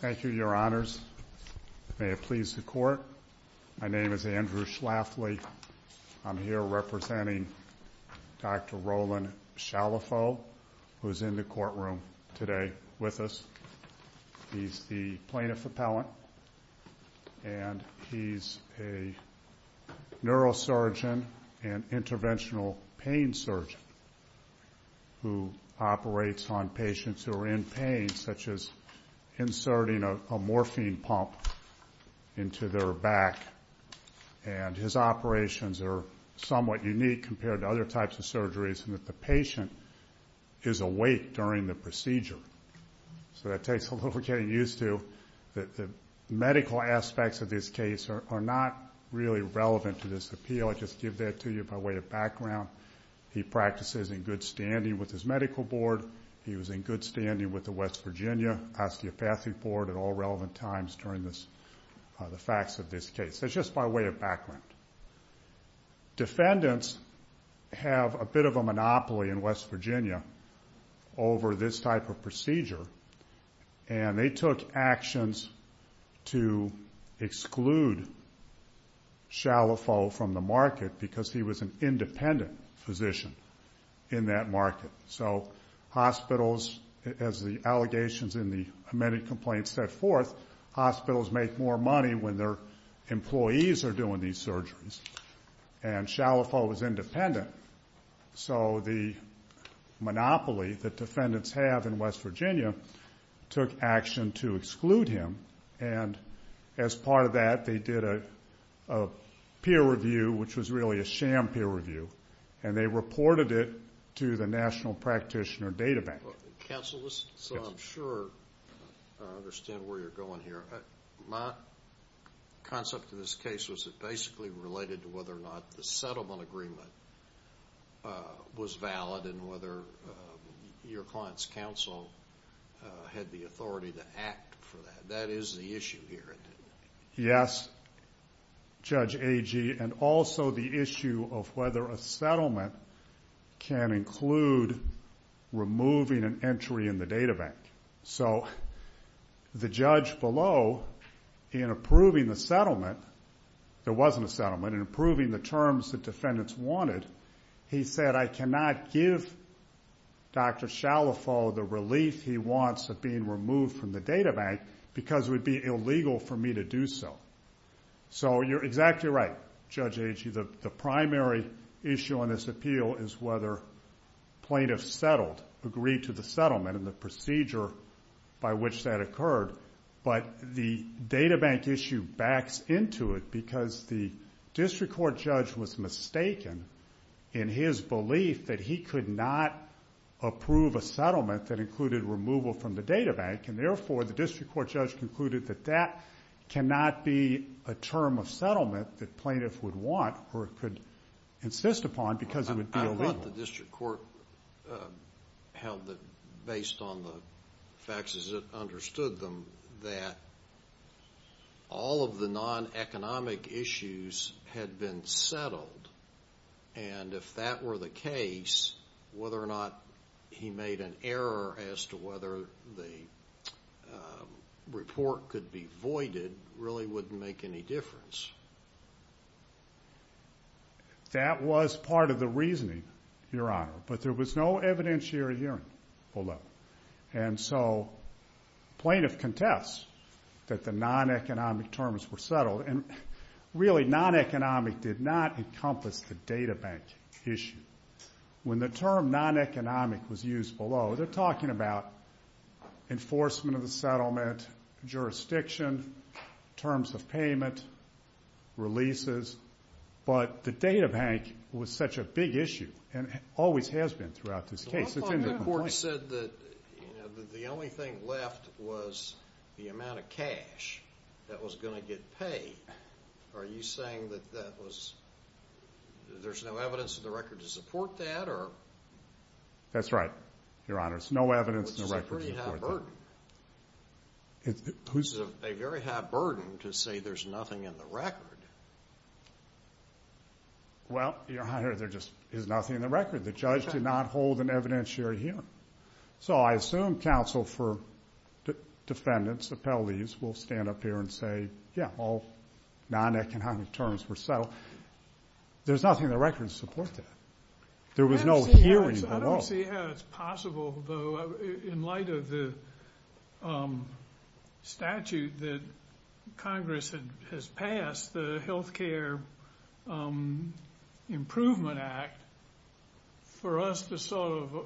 Thank you, Your Honors. May it please the Court, my name is Andrew Schlafly. I'm here representing Dr. Roland Chalifoux, who is in the courtroom today with us. He's the plaintiff appellant and he's a neurosurgeon and interventional pain surgeon who operates on patients who are in pain, such as inserting a morphine pump into their back. And his operations are somewhat unique compared to other types of surgeries in that the patient is awake during the procedure. So that takes a little getting used to. The medical aspects of this case are not really relevant to this appeal. I just give that to you by way of background. He practices in good standing with his medical board. He was in good standing with the West Virginia osteopathic board at all relevant times during the facts of this case. That's just by way of background. Defendants have a bit of a monopoly in West Virginia over this type of procedure and they took actions to exclude Chalifoux from the market because he was an independent physician in that market. So hospitals, as the allegations in the amended complaint set forth, hospitals make more money when their employees are doing these surgeries. And Chalifoux was independent, so the monopoly that defendants have in West Virginia took action to exclude him. And as part of that, they did a peer review, which was really a sham peer review, and they reported it to the National Practitioner Data Bank. Counsel, so I'm sure I understand where you're going here. My concept of this case was basically related to whether or not the settlement agreement was valid and whether your client's counsel had the authority to act for that. That is the issue here. Yes, Judge Agee, and also the issue of whether a settlement can include removing an entry in the data bank. So the judge below, in approving the settlement, there wasn't a settlement, in approving the terms the defendants wanted. He said, I cannot give Dr. Chalifoux the relief he wants of being removed from the data bank because it would be illegal for me to do so. So you're exactly right, Judge Agee, the primary issue on this appeal is whether plaintiffs settled, agreed to the settlement and the procedure by which that occurred. But the data bank issue backs into it because the district court judge was mistaken in his belief that he could not approve a settlement that included removal from the data bank, and therefore the district court judge concluded that that cannot be a term of settlement that plaintiffs would want or could insist upon because it would be illegal. I thought the district court held that, based on the facts as it understood them, that all of the non-economic issues had been settled, and if that were the case, whether or not he made an error as to whether the report could be voided really wouldn't make any difference. That was part of the reasoning, Your Honor, but there was no evidentiary hearing below. And so plaintiff contests that the non-economic terms were settled, and really non-economic did not encompass the data bank issue. When the term non-economic was used below, they're talking about enforcement of the settlement, jurisdiction, terms of payment, releases, but the data bank was such a big issue and always has been throughout this case. The court said that the only thing left was the amount of cash that was going to get paid. Are you saying that there's no evidence in the record to support that? That's right, Your Honor. There's no evidence in the record to support that. Which is a very high burden to say there's nothing in the record. Well, Your Honor, there just is nothing in the record. The judge did not hold an evidentiary hearing. So I assume counsel for defendants, appellees, will stand up here and say, yeah, all non-economic terms were settled. There's nothing in the record to support that. There was no hearing below. I don't see how it's possible, though, in light of the statute that Congress has passed, the Health Care Improvement Act, for us to sort of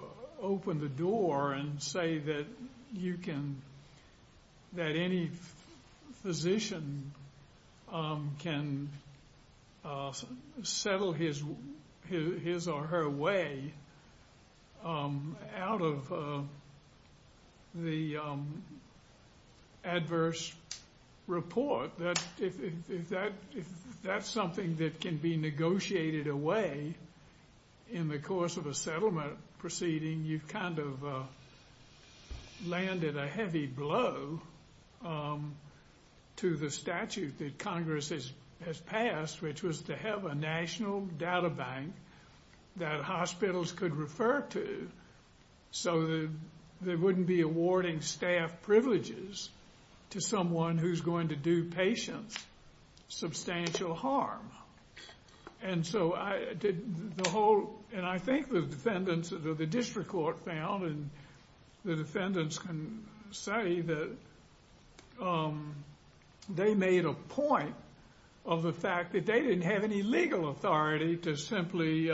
open the door and say that you can, that any physician can settle his or her way out of the adverse report. If that's something that can be negotiated away in the course of a settlement proceeding, you've kind of landed a heavy blow to the statute that Congress has passed, which was to have a national data bank that hospitals could refer to so that they wouldn't be awarding staff privileges to someone who's going to do patients substantial harm. And so I did the whole, and I think the defendants, the district court found, and the defendants can say that they made a point of the fact that they didn't have any legal authority to simply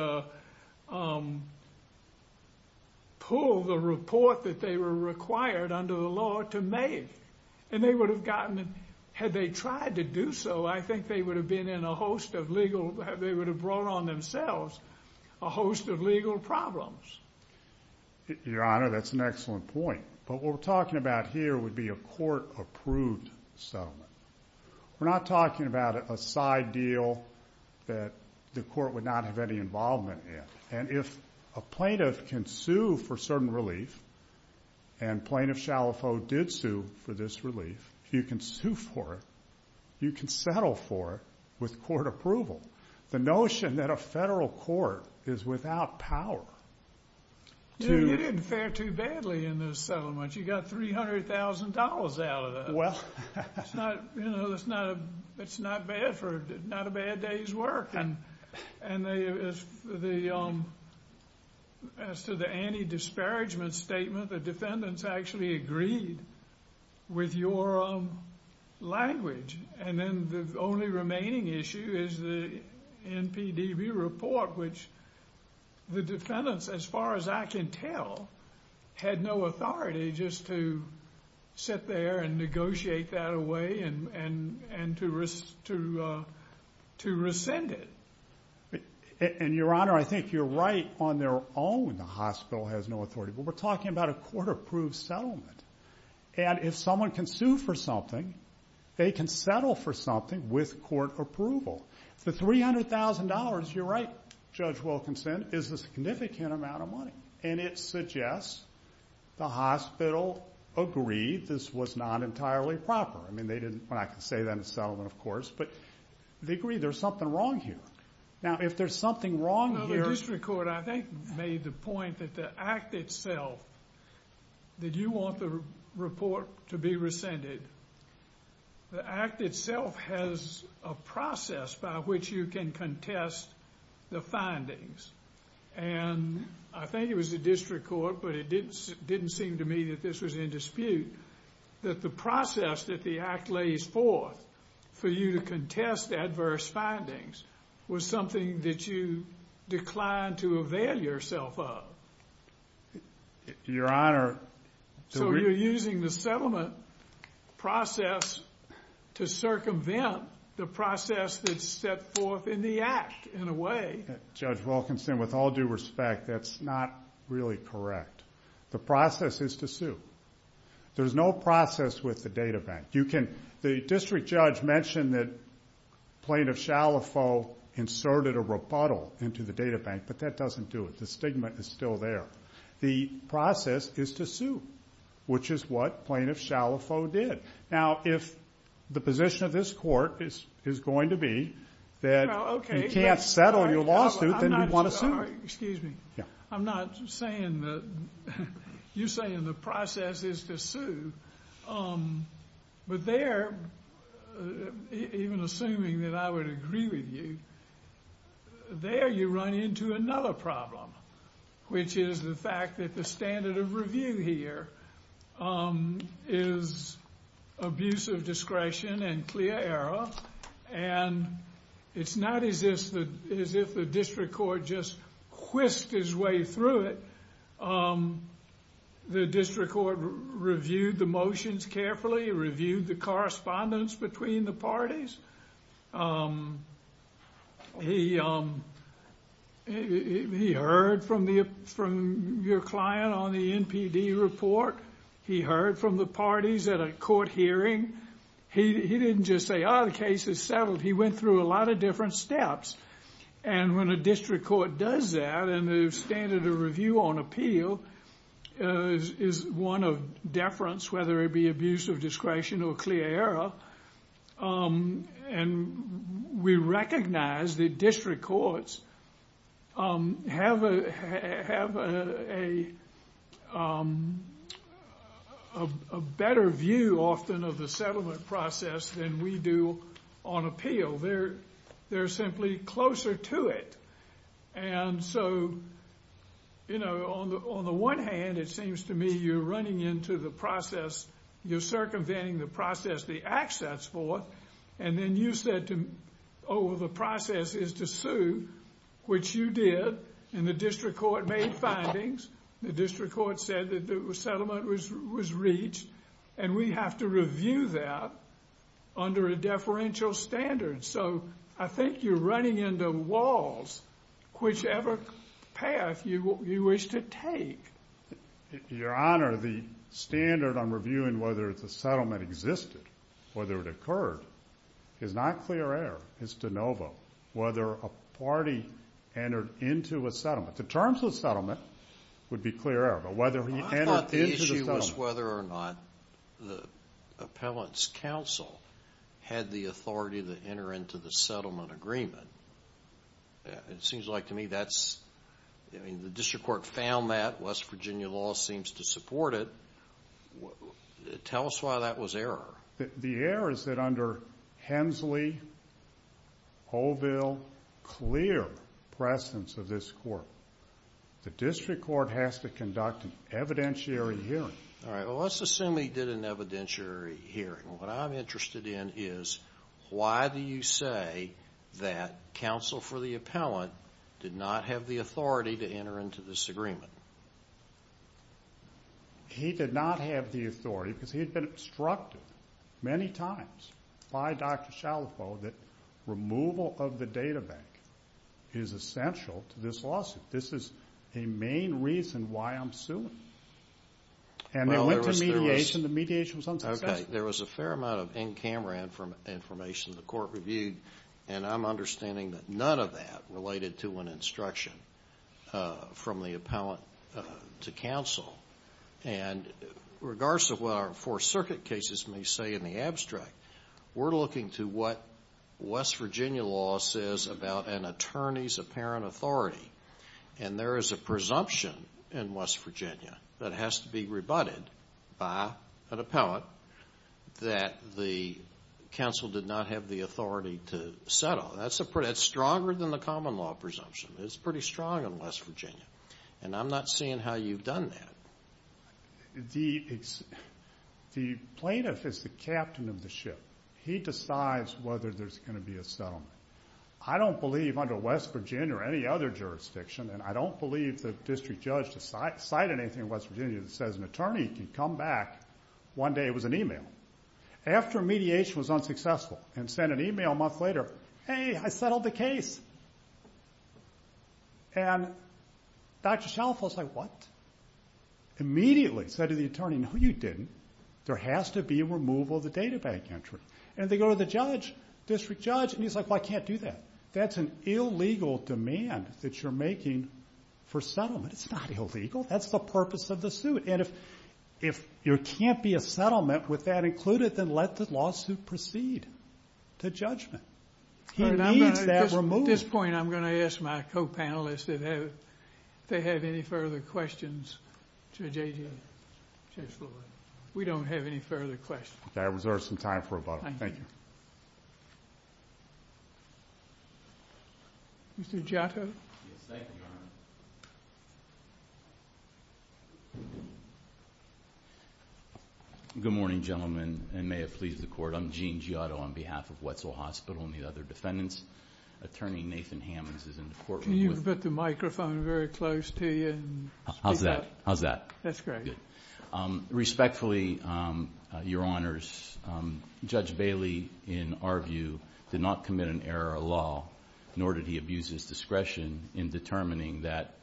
pull the report that they were required under the law to make. And they would have gotten, had they tried to do so, I think they would have been in a host of legal, they would have brought on themselves a host of legal problems. Your Honor, that's an excellent point. But what we're talking about here would be a court-approved settlement. We're not talking about a side deal that the court would not have any involvement in. And if a plaintiff can sue for certain relief, and Plaintiff Shalafo did sue for this relief, if you can sue for it, you can settle for it with court approval. The notion that a federal court is without power to— You didn't fare too badly in this settlement. You got $300,000 out of that. It's not bad for not a bad day's work. And as to the anti-disparagement statement, the defendants actually agreed with your language. And then the only remaining issue is the NPDB report, which the defendants, as far as I can tell, had no authority just to sit there and negotiate that away and to rescind it. And, Your Honor, I think you're right on their own. The hospital has no authority. But we're talking about a court-approved settlement. And if someone can sue for something, they can settle for something with court approval. The $300,000, you're right, Judge Wilkinson, is a significant amount of money. And it suggests the hospital agreed this was not entirely proper. I mean, they didn't—well, I can say that in settlement, of course. But they agreed there's something wrong here. Now, if there's something wrong here— The district court, I think, made the point that the Act itself, that you want the report to be rescinded. The Act itself has a process by which you can contest the findings. And I think it was the district court, but it didn't seem to me that this was in dispute, that the process that the Act lays forth for you to contest adverse findings was something that you declined to avail yourself of. Your Honor— So you're using the settlement process to circumvent the process that's set forth in the Act, in a way. Judge Wilkinson, with all due respect, that's not really correct. The process is to sue. There's no process with the databank. The district judge mentioned that Plaintiff Shalafo inserted a rebuttal into the databank, but that doesn't do it. The stigma is still there. The process is to sue, which is what Plaintiff Shalafo did. Now, if the position of this court is going to be that you can't settle your lawsuit, then you'd want to sue. Excuse me. I'm not saying that—you're saying the process is to sue, but there, even assuming that I would agree with you, there you run into another problem, which is the fact that the standard of review here is abuse of discretion and clear error, and it's not as if the district court just whisked his way through it. The district court reviewed the motions carefully, reviewed the correspondence between the parties. He heard from your client on the NPD report. He heard from the parties at a court hearing. He didn't just say, oh, the case is settled. He went through a lot of different steps, and when a district court does that and the standard of review on appeal is one of deference, whether it be abuse of discretion or clear error, and we recognize that district courts have a better view often of the settlement process than we do on appeal. They're simply closer to it, and so, you know, on the one hand, it seems to me you're running into the process— you're circumventing the process the act sets forth, and then you said, oh, the process is to sue, which you did, and the district court made findings. The district court said that the settlement was reached, and we have to review that under a deferential standard, so I think you're running into walls whichever path you wish to take. Your Honor, the standard on reviewing whether the settlement existed, whether it occurred, is not clear error. It's de novo whether a party entered into a settlement. The terms of the settlement would be clear error, but whether he entered into the settlement— agreement, it seems like to me that's—I mean, the district court found that. West Virginia law seems to support it. Tell us why that was error. The error is that under Hensley, Oville, clear presence of this court. The district court has to conduct an evidentiary hearing. All right, well, let's assume he did an evidentiary hearing. What I'm interested in is why do you say that counsel for the appellant did not have the authority to enter into this agreement? He did not have the authority because he had been obstructed many times by Dr. Shalifo that removal of the data bank is essential to this lawsuit. This is a main reason why I'm suing, and they went to mediation. The mediation was unsuccessful. Okay, there was a fair amount of in-camera information the court reviewed, and I'm understanding that none of that related to an instruction from the appellant to counsel. And regardless of what our Fourth Circuit cases may say in the abstract, we're looking to what West Virginia law says about an attorney's apparent authority, and there is a presumption in West Virginia that has to be rebutted by an appellant that the counsel did not have the authority to settle. That's stronger than the common law presumption. It's pretty strong in West Virginia, and I'm not seeing how you've done that. The plaintiff is the captain of the ship. He decides whether there's going to be a settlement. I don't believe under West Virginia or any other jurisdiction, and I don't believe the district judge decided anything in West Virginia that says an attorney can come back. One day it was an e-mail. After mediation was unsuccessful and sent an e-mail a month later, hey, I settled the case. And Dr. Shalifo is like, what? Immediately said to the attorney, no, you didn't. There has to be a removal of the data bank entry. And they go to the judge, district judge, and he's like, well, I can't do that. That's an illegal demand that you're making for settlement. It's not illegal. That's the purpose of the suit. And if there can't be a settlement with that included, then let the lawsuit proceed to judgment. He needs that removed. At this point I'm going to ask my co-panelists if they have any further questions to J.J. We don't have any further questions. I reserve some time for a moment. Thank you. Mr. Giotto. Yes, thank you, Your Honor. Good morning, gentlemen, and may it please the Court. I'm Gene Giotto on behalf of Wetzel Hospital and the other defendants. Attorney Nathan Hammons is in the courtroom with me. Can you put the microphone very close to you? How's that? That's great. Very good. Respectfully, Your Honors, Judge Bailey, in our view, did not commit an error of law, nor did he abuse his discretion in determining that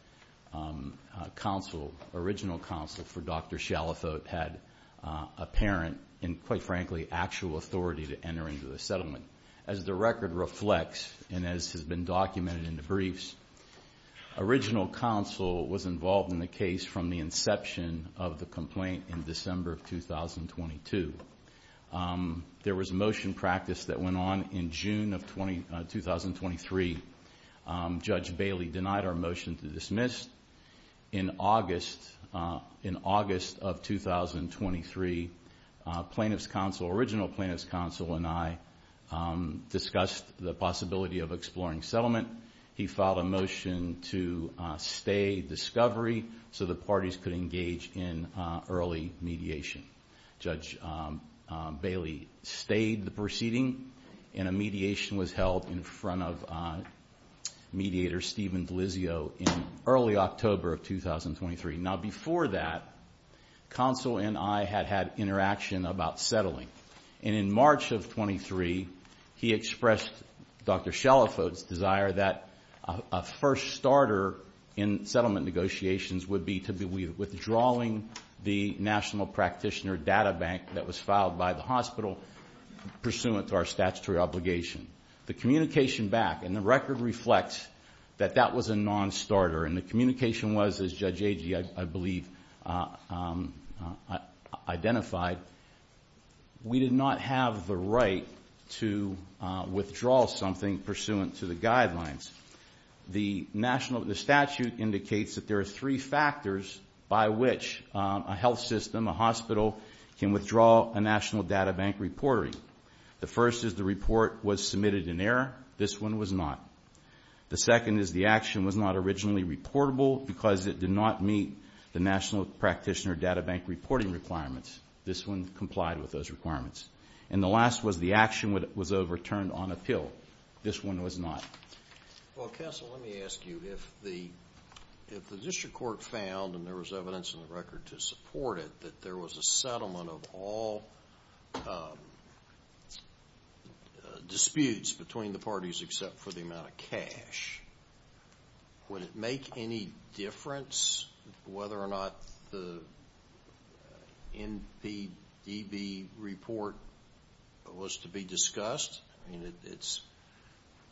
counsel, original counsel for Dr. Shalathote, had apparent and, quite frankly, actual authority to enter into the settlement. As the record reflects and as has been documented in the briefs, original counsel was involved in the case from the inception of the complaint in December of 2022. There was a motion practice that went on in June of 2023. Judge Bailey denied our motion to dismiss. In August of 2023, plaintiff's counsel, original plaintiff's counsel and I, discussed the possibility of exploring settlement. He filed a motion to stay discovery so the parties could engage in early mediation. Judge Bailey stayed the proceeding, and a mediation was held in front of mediator Stephen Delizio in early October of 2023. Now, before that, counsel and I had had interaction about settling. And in March of 23, he expressed Dr. Shalathote's desire that a first starter in settlement negotiations would be to be withdrawing the National Practitioner Data Bank that was filed by the hospital pursuant to our statutory obligation. The communication back, and the record reflects that that was a non-starter, and the communication was, as Judge Agee, I believe, identified, we did not have the right to withdraw something pursuant to the guidelines. The statute indicates that there are three factors by which a health system, a hospital, can withdraw a National Data Bank report. The first is the report was submitted in error. This one was not. The second is the action was not originally reportable because it did not meet the National Practitioner Data Bank reporting requirements. This one complied with those requirements. And the last was the action was overturned on appeal. This one was not. Well, counsel, let me ask you. If the district court found, and there was evidence in the record to support it, that there was a settlement of all disputes between the parties except for the amount of cash, would it make any difference whether or not the NPDB report was to be discussed? I mean,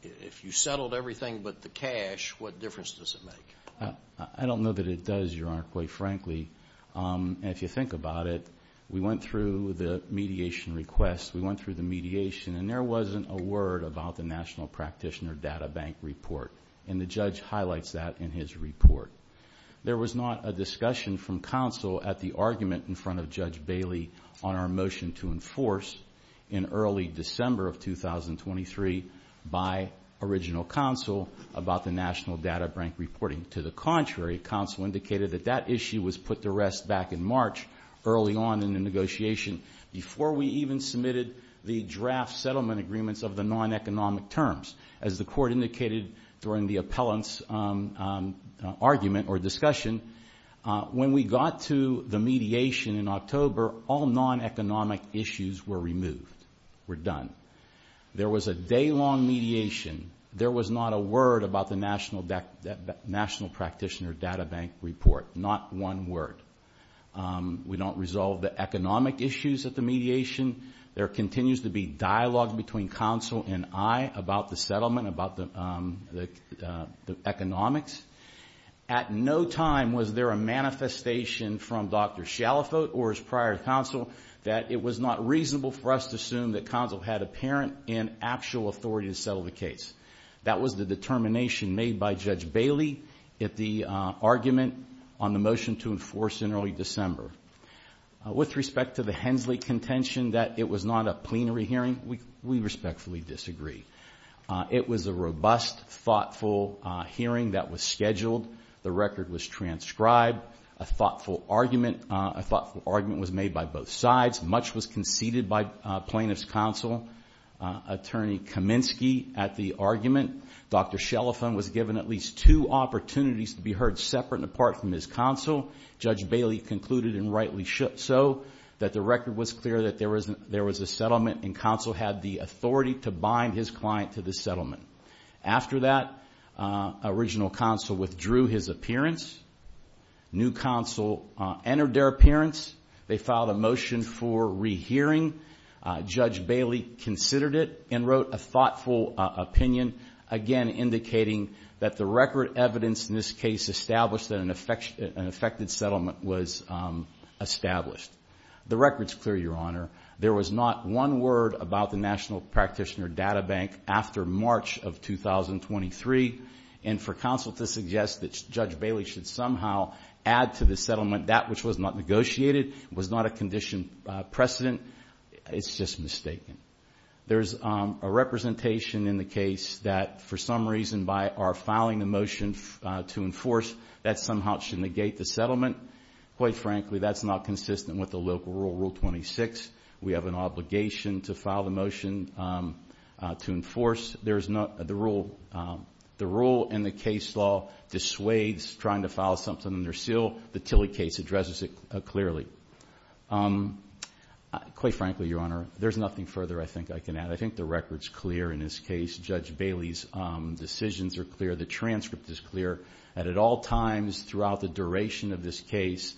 if you settled everything but the cash, what difference does it make? I don't know that it does, Your Honor, quite frankly. If you think about it, we went through the mediation request, we went through the mediation, and there wasn't a word about the National Practitioner Data Bank report, and the judge highlights that in his report. There was not a discussion from counsel at the argument in front of Judge Bailey on our motion to enforce in early December of 2023 by original counsel about the National Data Bank reporting. To the contrary, counsel indicated that that issue was put to rest back in March, early on in the negotiation, before we even submitted the draft settlement agreements of the non-economic terms. As the court indicated during the appellant's argument or discussion, when we got to the mediation in October, all non-economic issues were removed, were done. There was a day-long mediation. There was not a word about the National Practitioner Data Bank report, not one word. We don't resolve the economic issues at the mediation. There continues to be dialogue between counsel and I about the settlement, about the economics. At no time was there a manifestation from Dr. Shalafoet or his prior counsel that it was not reasonable for us to assume that counsel had apparent and actual authority to settle the case. That was the determination made by Judge Bailey at the argument on the motion to enforce in early December. With respect to the Hensley contention that it was not a plenary hearing, we respectfully disagree. It was a robust, thoughtful hearing that was scheduled. The record was transcribed. A thoughtful argument was made by both sides. Much was conceded by plaintiff's counsel, Attorney Kaminsky, at the argument. Dr. Shalafoet was given at least two opportunities to be heard separate and apart from his counsel. Judge Bailey concluded and rightly so that the record was clear that there was a settlement and counsel had the authority to bind his client to the settlement. After that, original counsel withdrew his appearance. New counsel entered their appearance. They filed a motion for rehearing. Judge Bailey considered it and wrote a thoughtful opinion, again indicating that the record evidence in this case established that an effected settlement was established. The record's clear, Your Honor. There was not one word about the National Practitioner Data Bank after March of 2023, and for counsel to suggest that Judge Bailey should somehow add to the settlement that which was not negotiated, was not a condition precedent, is just mistaken. There's a representation in the case that, for some reason, by our filing the motion to enforce that somehow it should negate the settlement. Quite frankly, that's not consistent with the local rule, Rule 26. We have an obligation to file the motion to enforce. The rule in the case law dissuades trying to file something under seal. The Tilley case addresses it clearly. Quite frankly, Your Honor, there's nothing further I think I can add. I think the record's clear in this case. Judge Bailey's decisions are clear. The transcript is clear. At all times throughout the duration of this case,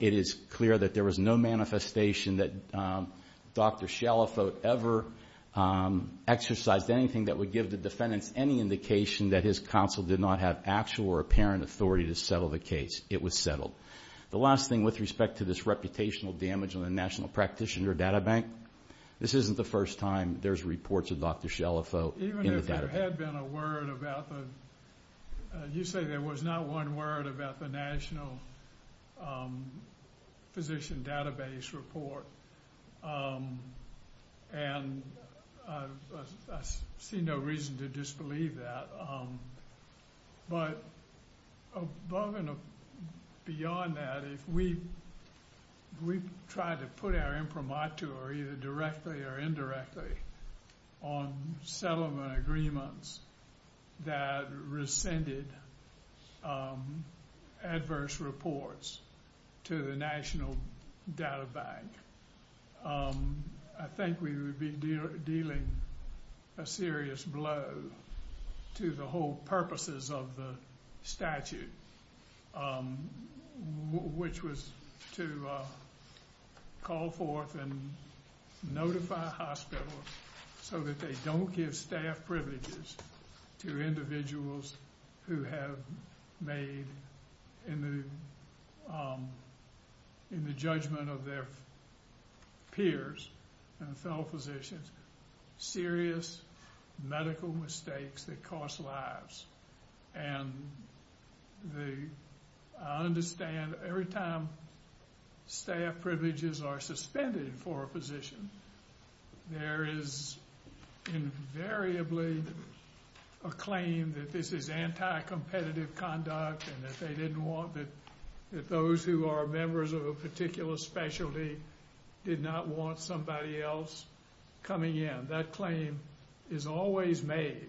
it is clear that there was no manifestation that Dr. Shalafo ever exercised anything that would give the defendants any indication that his counsel did not have actual or apparent authority to settle the case. It was settled. The last thing with respect to this reputational damage on the National Practitioner Data Bank, this isn't the first time there's reports of Dr. Shalafo in the Data Bank. Even if there had been a word about the, you say there was not one word about the National Physician Database report, and I see no reason to disbelieve that. But above and beyond that, if we try to put our imprimatur either directly or indirectly on settlement agreements that rescinded adverse reports to the National Data Bank, I think we would be dealing a serious blow to the whole purposes of the statute, which was to call forth and notify hospitals so that they don't give staff privileges to individuals who have made, in the judgment of their peers and fellow physicians, serious medical mistakes that cost lives. And I understand every time staff privileges are suspended for a physician, there is invariably a claim that this is anti-competitive conduct and that they didn't want, that those who are members of a particular specialty did not want somebody else coming in. That claim is always made.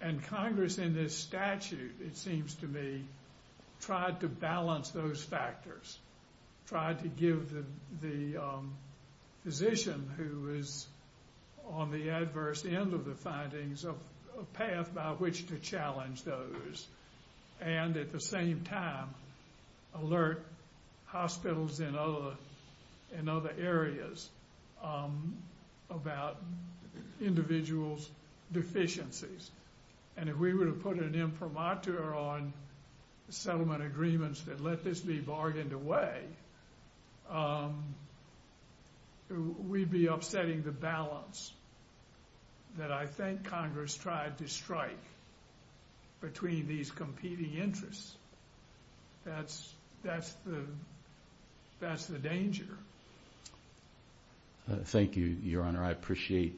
And Congress in this statute, it seems to me, tried to balance those factors, tried to give the physician who is on the adverse end of the findings a path by which to challenge those and at the same time alert hospitals in other areas about individuals' deficiencies. And if we were to put an imprimatur on settlement agreements and let this be bargained away, we'd be upsetting the balance that I think Congress tried to strike between these competing interests. That's the danger. Thank you, Your Honor. I appreciate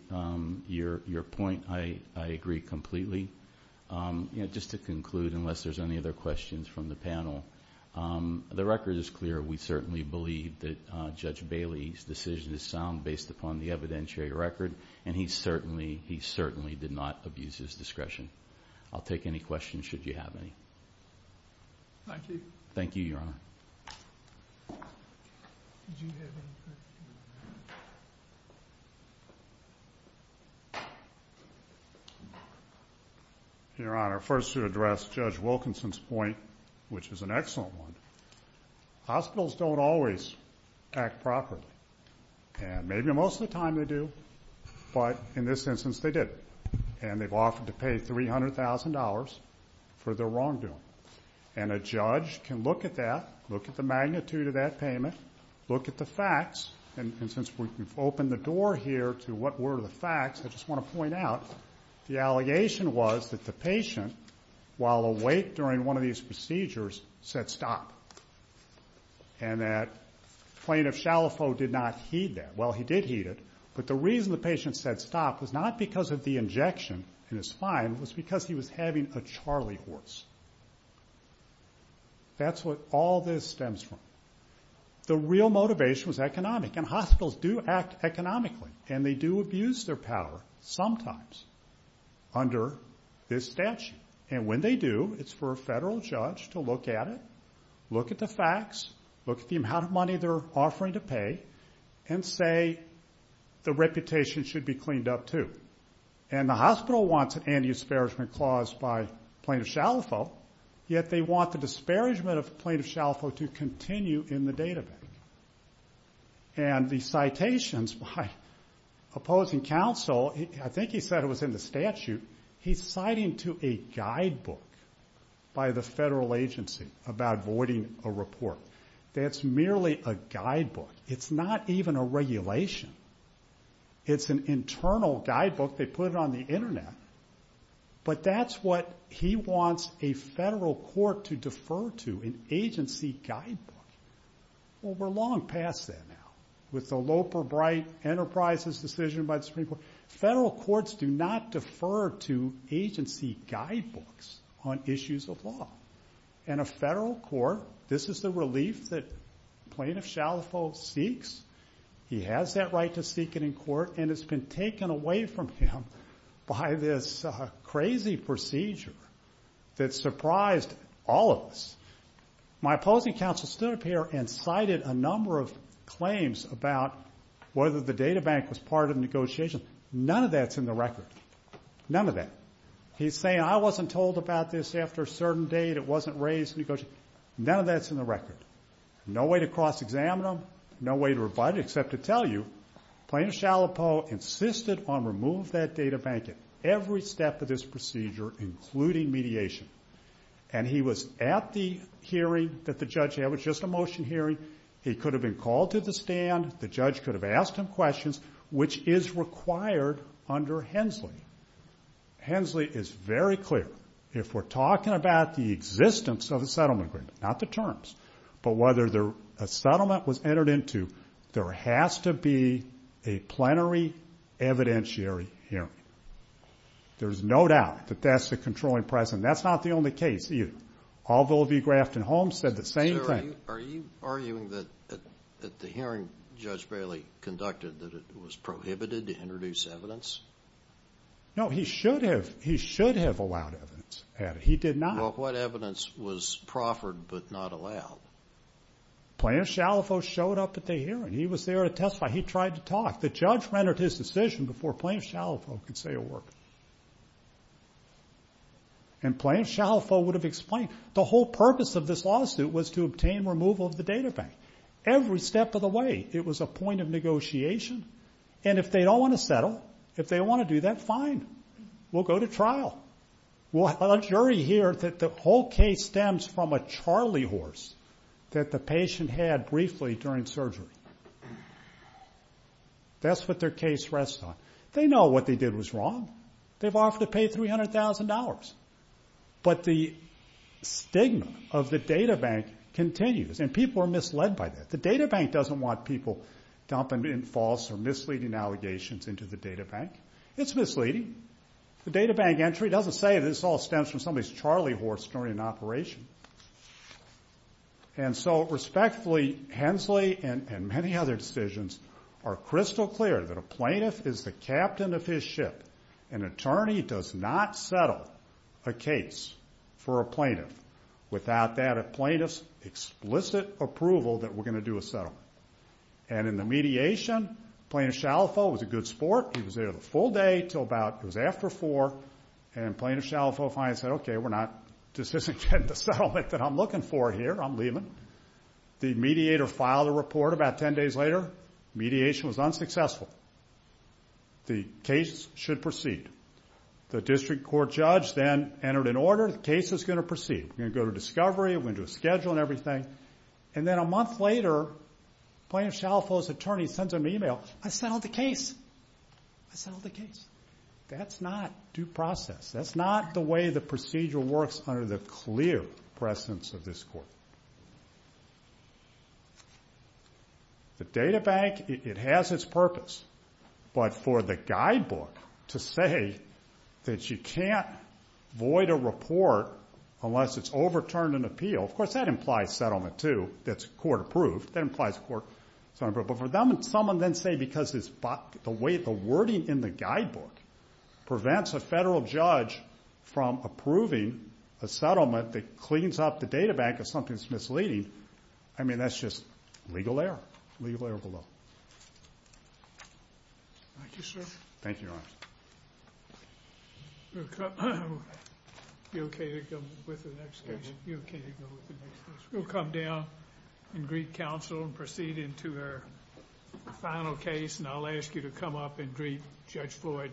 your point. I agree completely. Just to conclude, unless there's any other questions from the panel, the record is clear. We certainly believe that Judge Bailey's decision is sound based upon the evidentiary record, and he certainly did not abuse his discretion. I'll take any questions should you have any. Thank you. Thank you, Your Honor. Did you have any questions? Your Honor, first to address Judge Wilkinson's point, which is an excellent one, hospitals don't always act properly, and maybe most of the time they do, but in this instance they didn't, and they've offered to pay $300,000 for their wrongdoing. And a judge can look at that, look at the magnitude of that payment, look at the facts, and since we've opened the door here to what were the facts, I just want to point out the allegation was that the patient, while awake during one of these procedures, said stop, and that plaintiff Shalafo did not heed that. Well, he did heed it, but the reason the patient said stop was not because of the injection in his spine, it was because he was having a charley horse. That's where all this stems from. The real motivation was economic, and hospitals do act economically, and they do abuse their power sometimes under this statute. And when they do, it's for a federal judge to look at it, look at the facts, look at the amount of money they're offering to pay, and say the reputation should be cleaned up too. And the hospital wants an anti-disparagement clause by plaintiff Shalafo, yet they want the disparagement of plaintiff Shalafo to continue in the data bank. And the citations by opposing counsel, I think he said it was in the statute, he's citing to a guidebook by the federal agency about voiding a report. That's merely a guidebook. It's not even a regulation. It's an internal guidebook. They put it on the internet. But that's what he wants a federal court to defer to, an agency guidebook. Well, we're long past that now, with the Loper-Bright Enterprises decision by the Supreme Court. Federal courts do not defer to agency guidebooks on issues of law. And a federal court, this is the relief that plaintiff Shalafo seeks. He has that right to seek it in court, and it's been taken away from him by this crazy procedure that surprised all of us. My opposing counsel stood up here and cited a number of claims about whether the data bank was part of the negotiation. None of that's in the record. None of that. He's saying I wasn't told about this after a certain date. It wasn't raised in the negotiation. None of that's in the record. No way to cross-examine them. No way to rebut it except to tell you plaintiff Shalafo insisted on removing that data bank at every step of this procedure, including mediation. And he was at the hearing that the judge had. It was just a motion hearing. He could have been called to the stand. The judge could have asked him questions, which is required under Hensley. Hensley is very clear. If we're talking about the existence of a settlement agreement, not the terms, but whether a settlement was entered into, there has to be a plenary evidentiary hearing. There's no doubt that that's the controlling precedent. That's not the only case either. All Villa V. Grafton Holmes said the same thing. Sir, are you arguing that at the hearing Judge Bailey conducted that it was prohibited to introduce evidence? No, he should have allowed evidence. He did not. Well, what evidence was proffered but not allowed? Plaintiff Shalafo showed up at the hearing. He was there to testify. He tried to talk. The judge rendered his decision before Plaintiff Shalafo could say a word. And Plaintiff Shalafo would have explained. The whole purpose of this lawsuit was to obtain removal of the data bank. Every step of the way, it was a point of negotiation. And if they don't want to settle, if they want to do that, fine. We'll go to trial. We'll have a jury here that the whole case stems from a charley horse that the patient had briefly during surgery. That's what their case rests on. They know what they did was wrong. They've offered to pay $300,000. But the stigma of the data bank continues, and people are misled by that. The data bank doesn't want people dumping in false or misleading allegations into the data bank. It's misleading. The data bank entry doesn't say this all stems from somebody's charley horse during an operation. And so, respectfully, Hensley and many other decisions are crystal clear that a plaintiff is the captain of his ship. An attorney does not settle a case for a plaintiff. Without that, a plaintiff's explicit approval that we're going to do a settlement. And in the mediation, Plaintiff Shalafo was a good sport. He was there the full day until about it was after four, and Plaintiff Shalafo finally said, okay, this isn't the settlement that I'm looking for here. I'm leaving. The mediator filed a report about ten days later. Mediation was unsuccessful. The case should proceed. The district court judge then entered an order. The case is going to proceed. We're going to go to discovery. We're going to do a schedule and everything. And then a month later, Plaintiff Shalafo's attorney sends him an email. I settled the case. I settled the case. That's not due process. That's not the way the procedure works under the clear presence of this court. The data bank, it has its purpose. But for the guidebook to say that you can't void a report unless it's overturned an appeal, of course, that implies settlement, too. That's court approved. That implies court approval. But for someone to then say because the wording in the guidebook prevents a federal judge from approving a settlement that cleans up the data bank of something that's misleading, I mean, that's just legal error. Legal error below. Thank you, sir. Thank you, Your Honor. You okay to go with the next case? You okay to go with the next case? We'll come down and greet counsel and proceed into her final case, and I'll ask you to come up and greet Judge Floyd personally.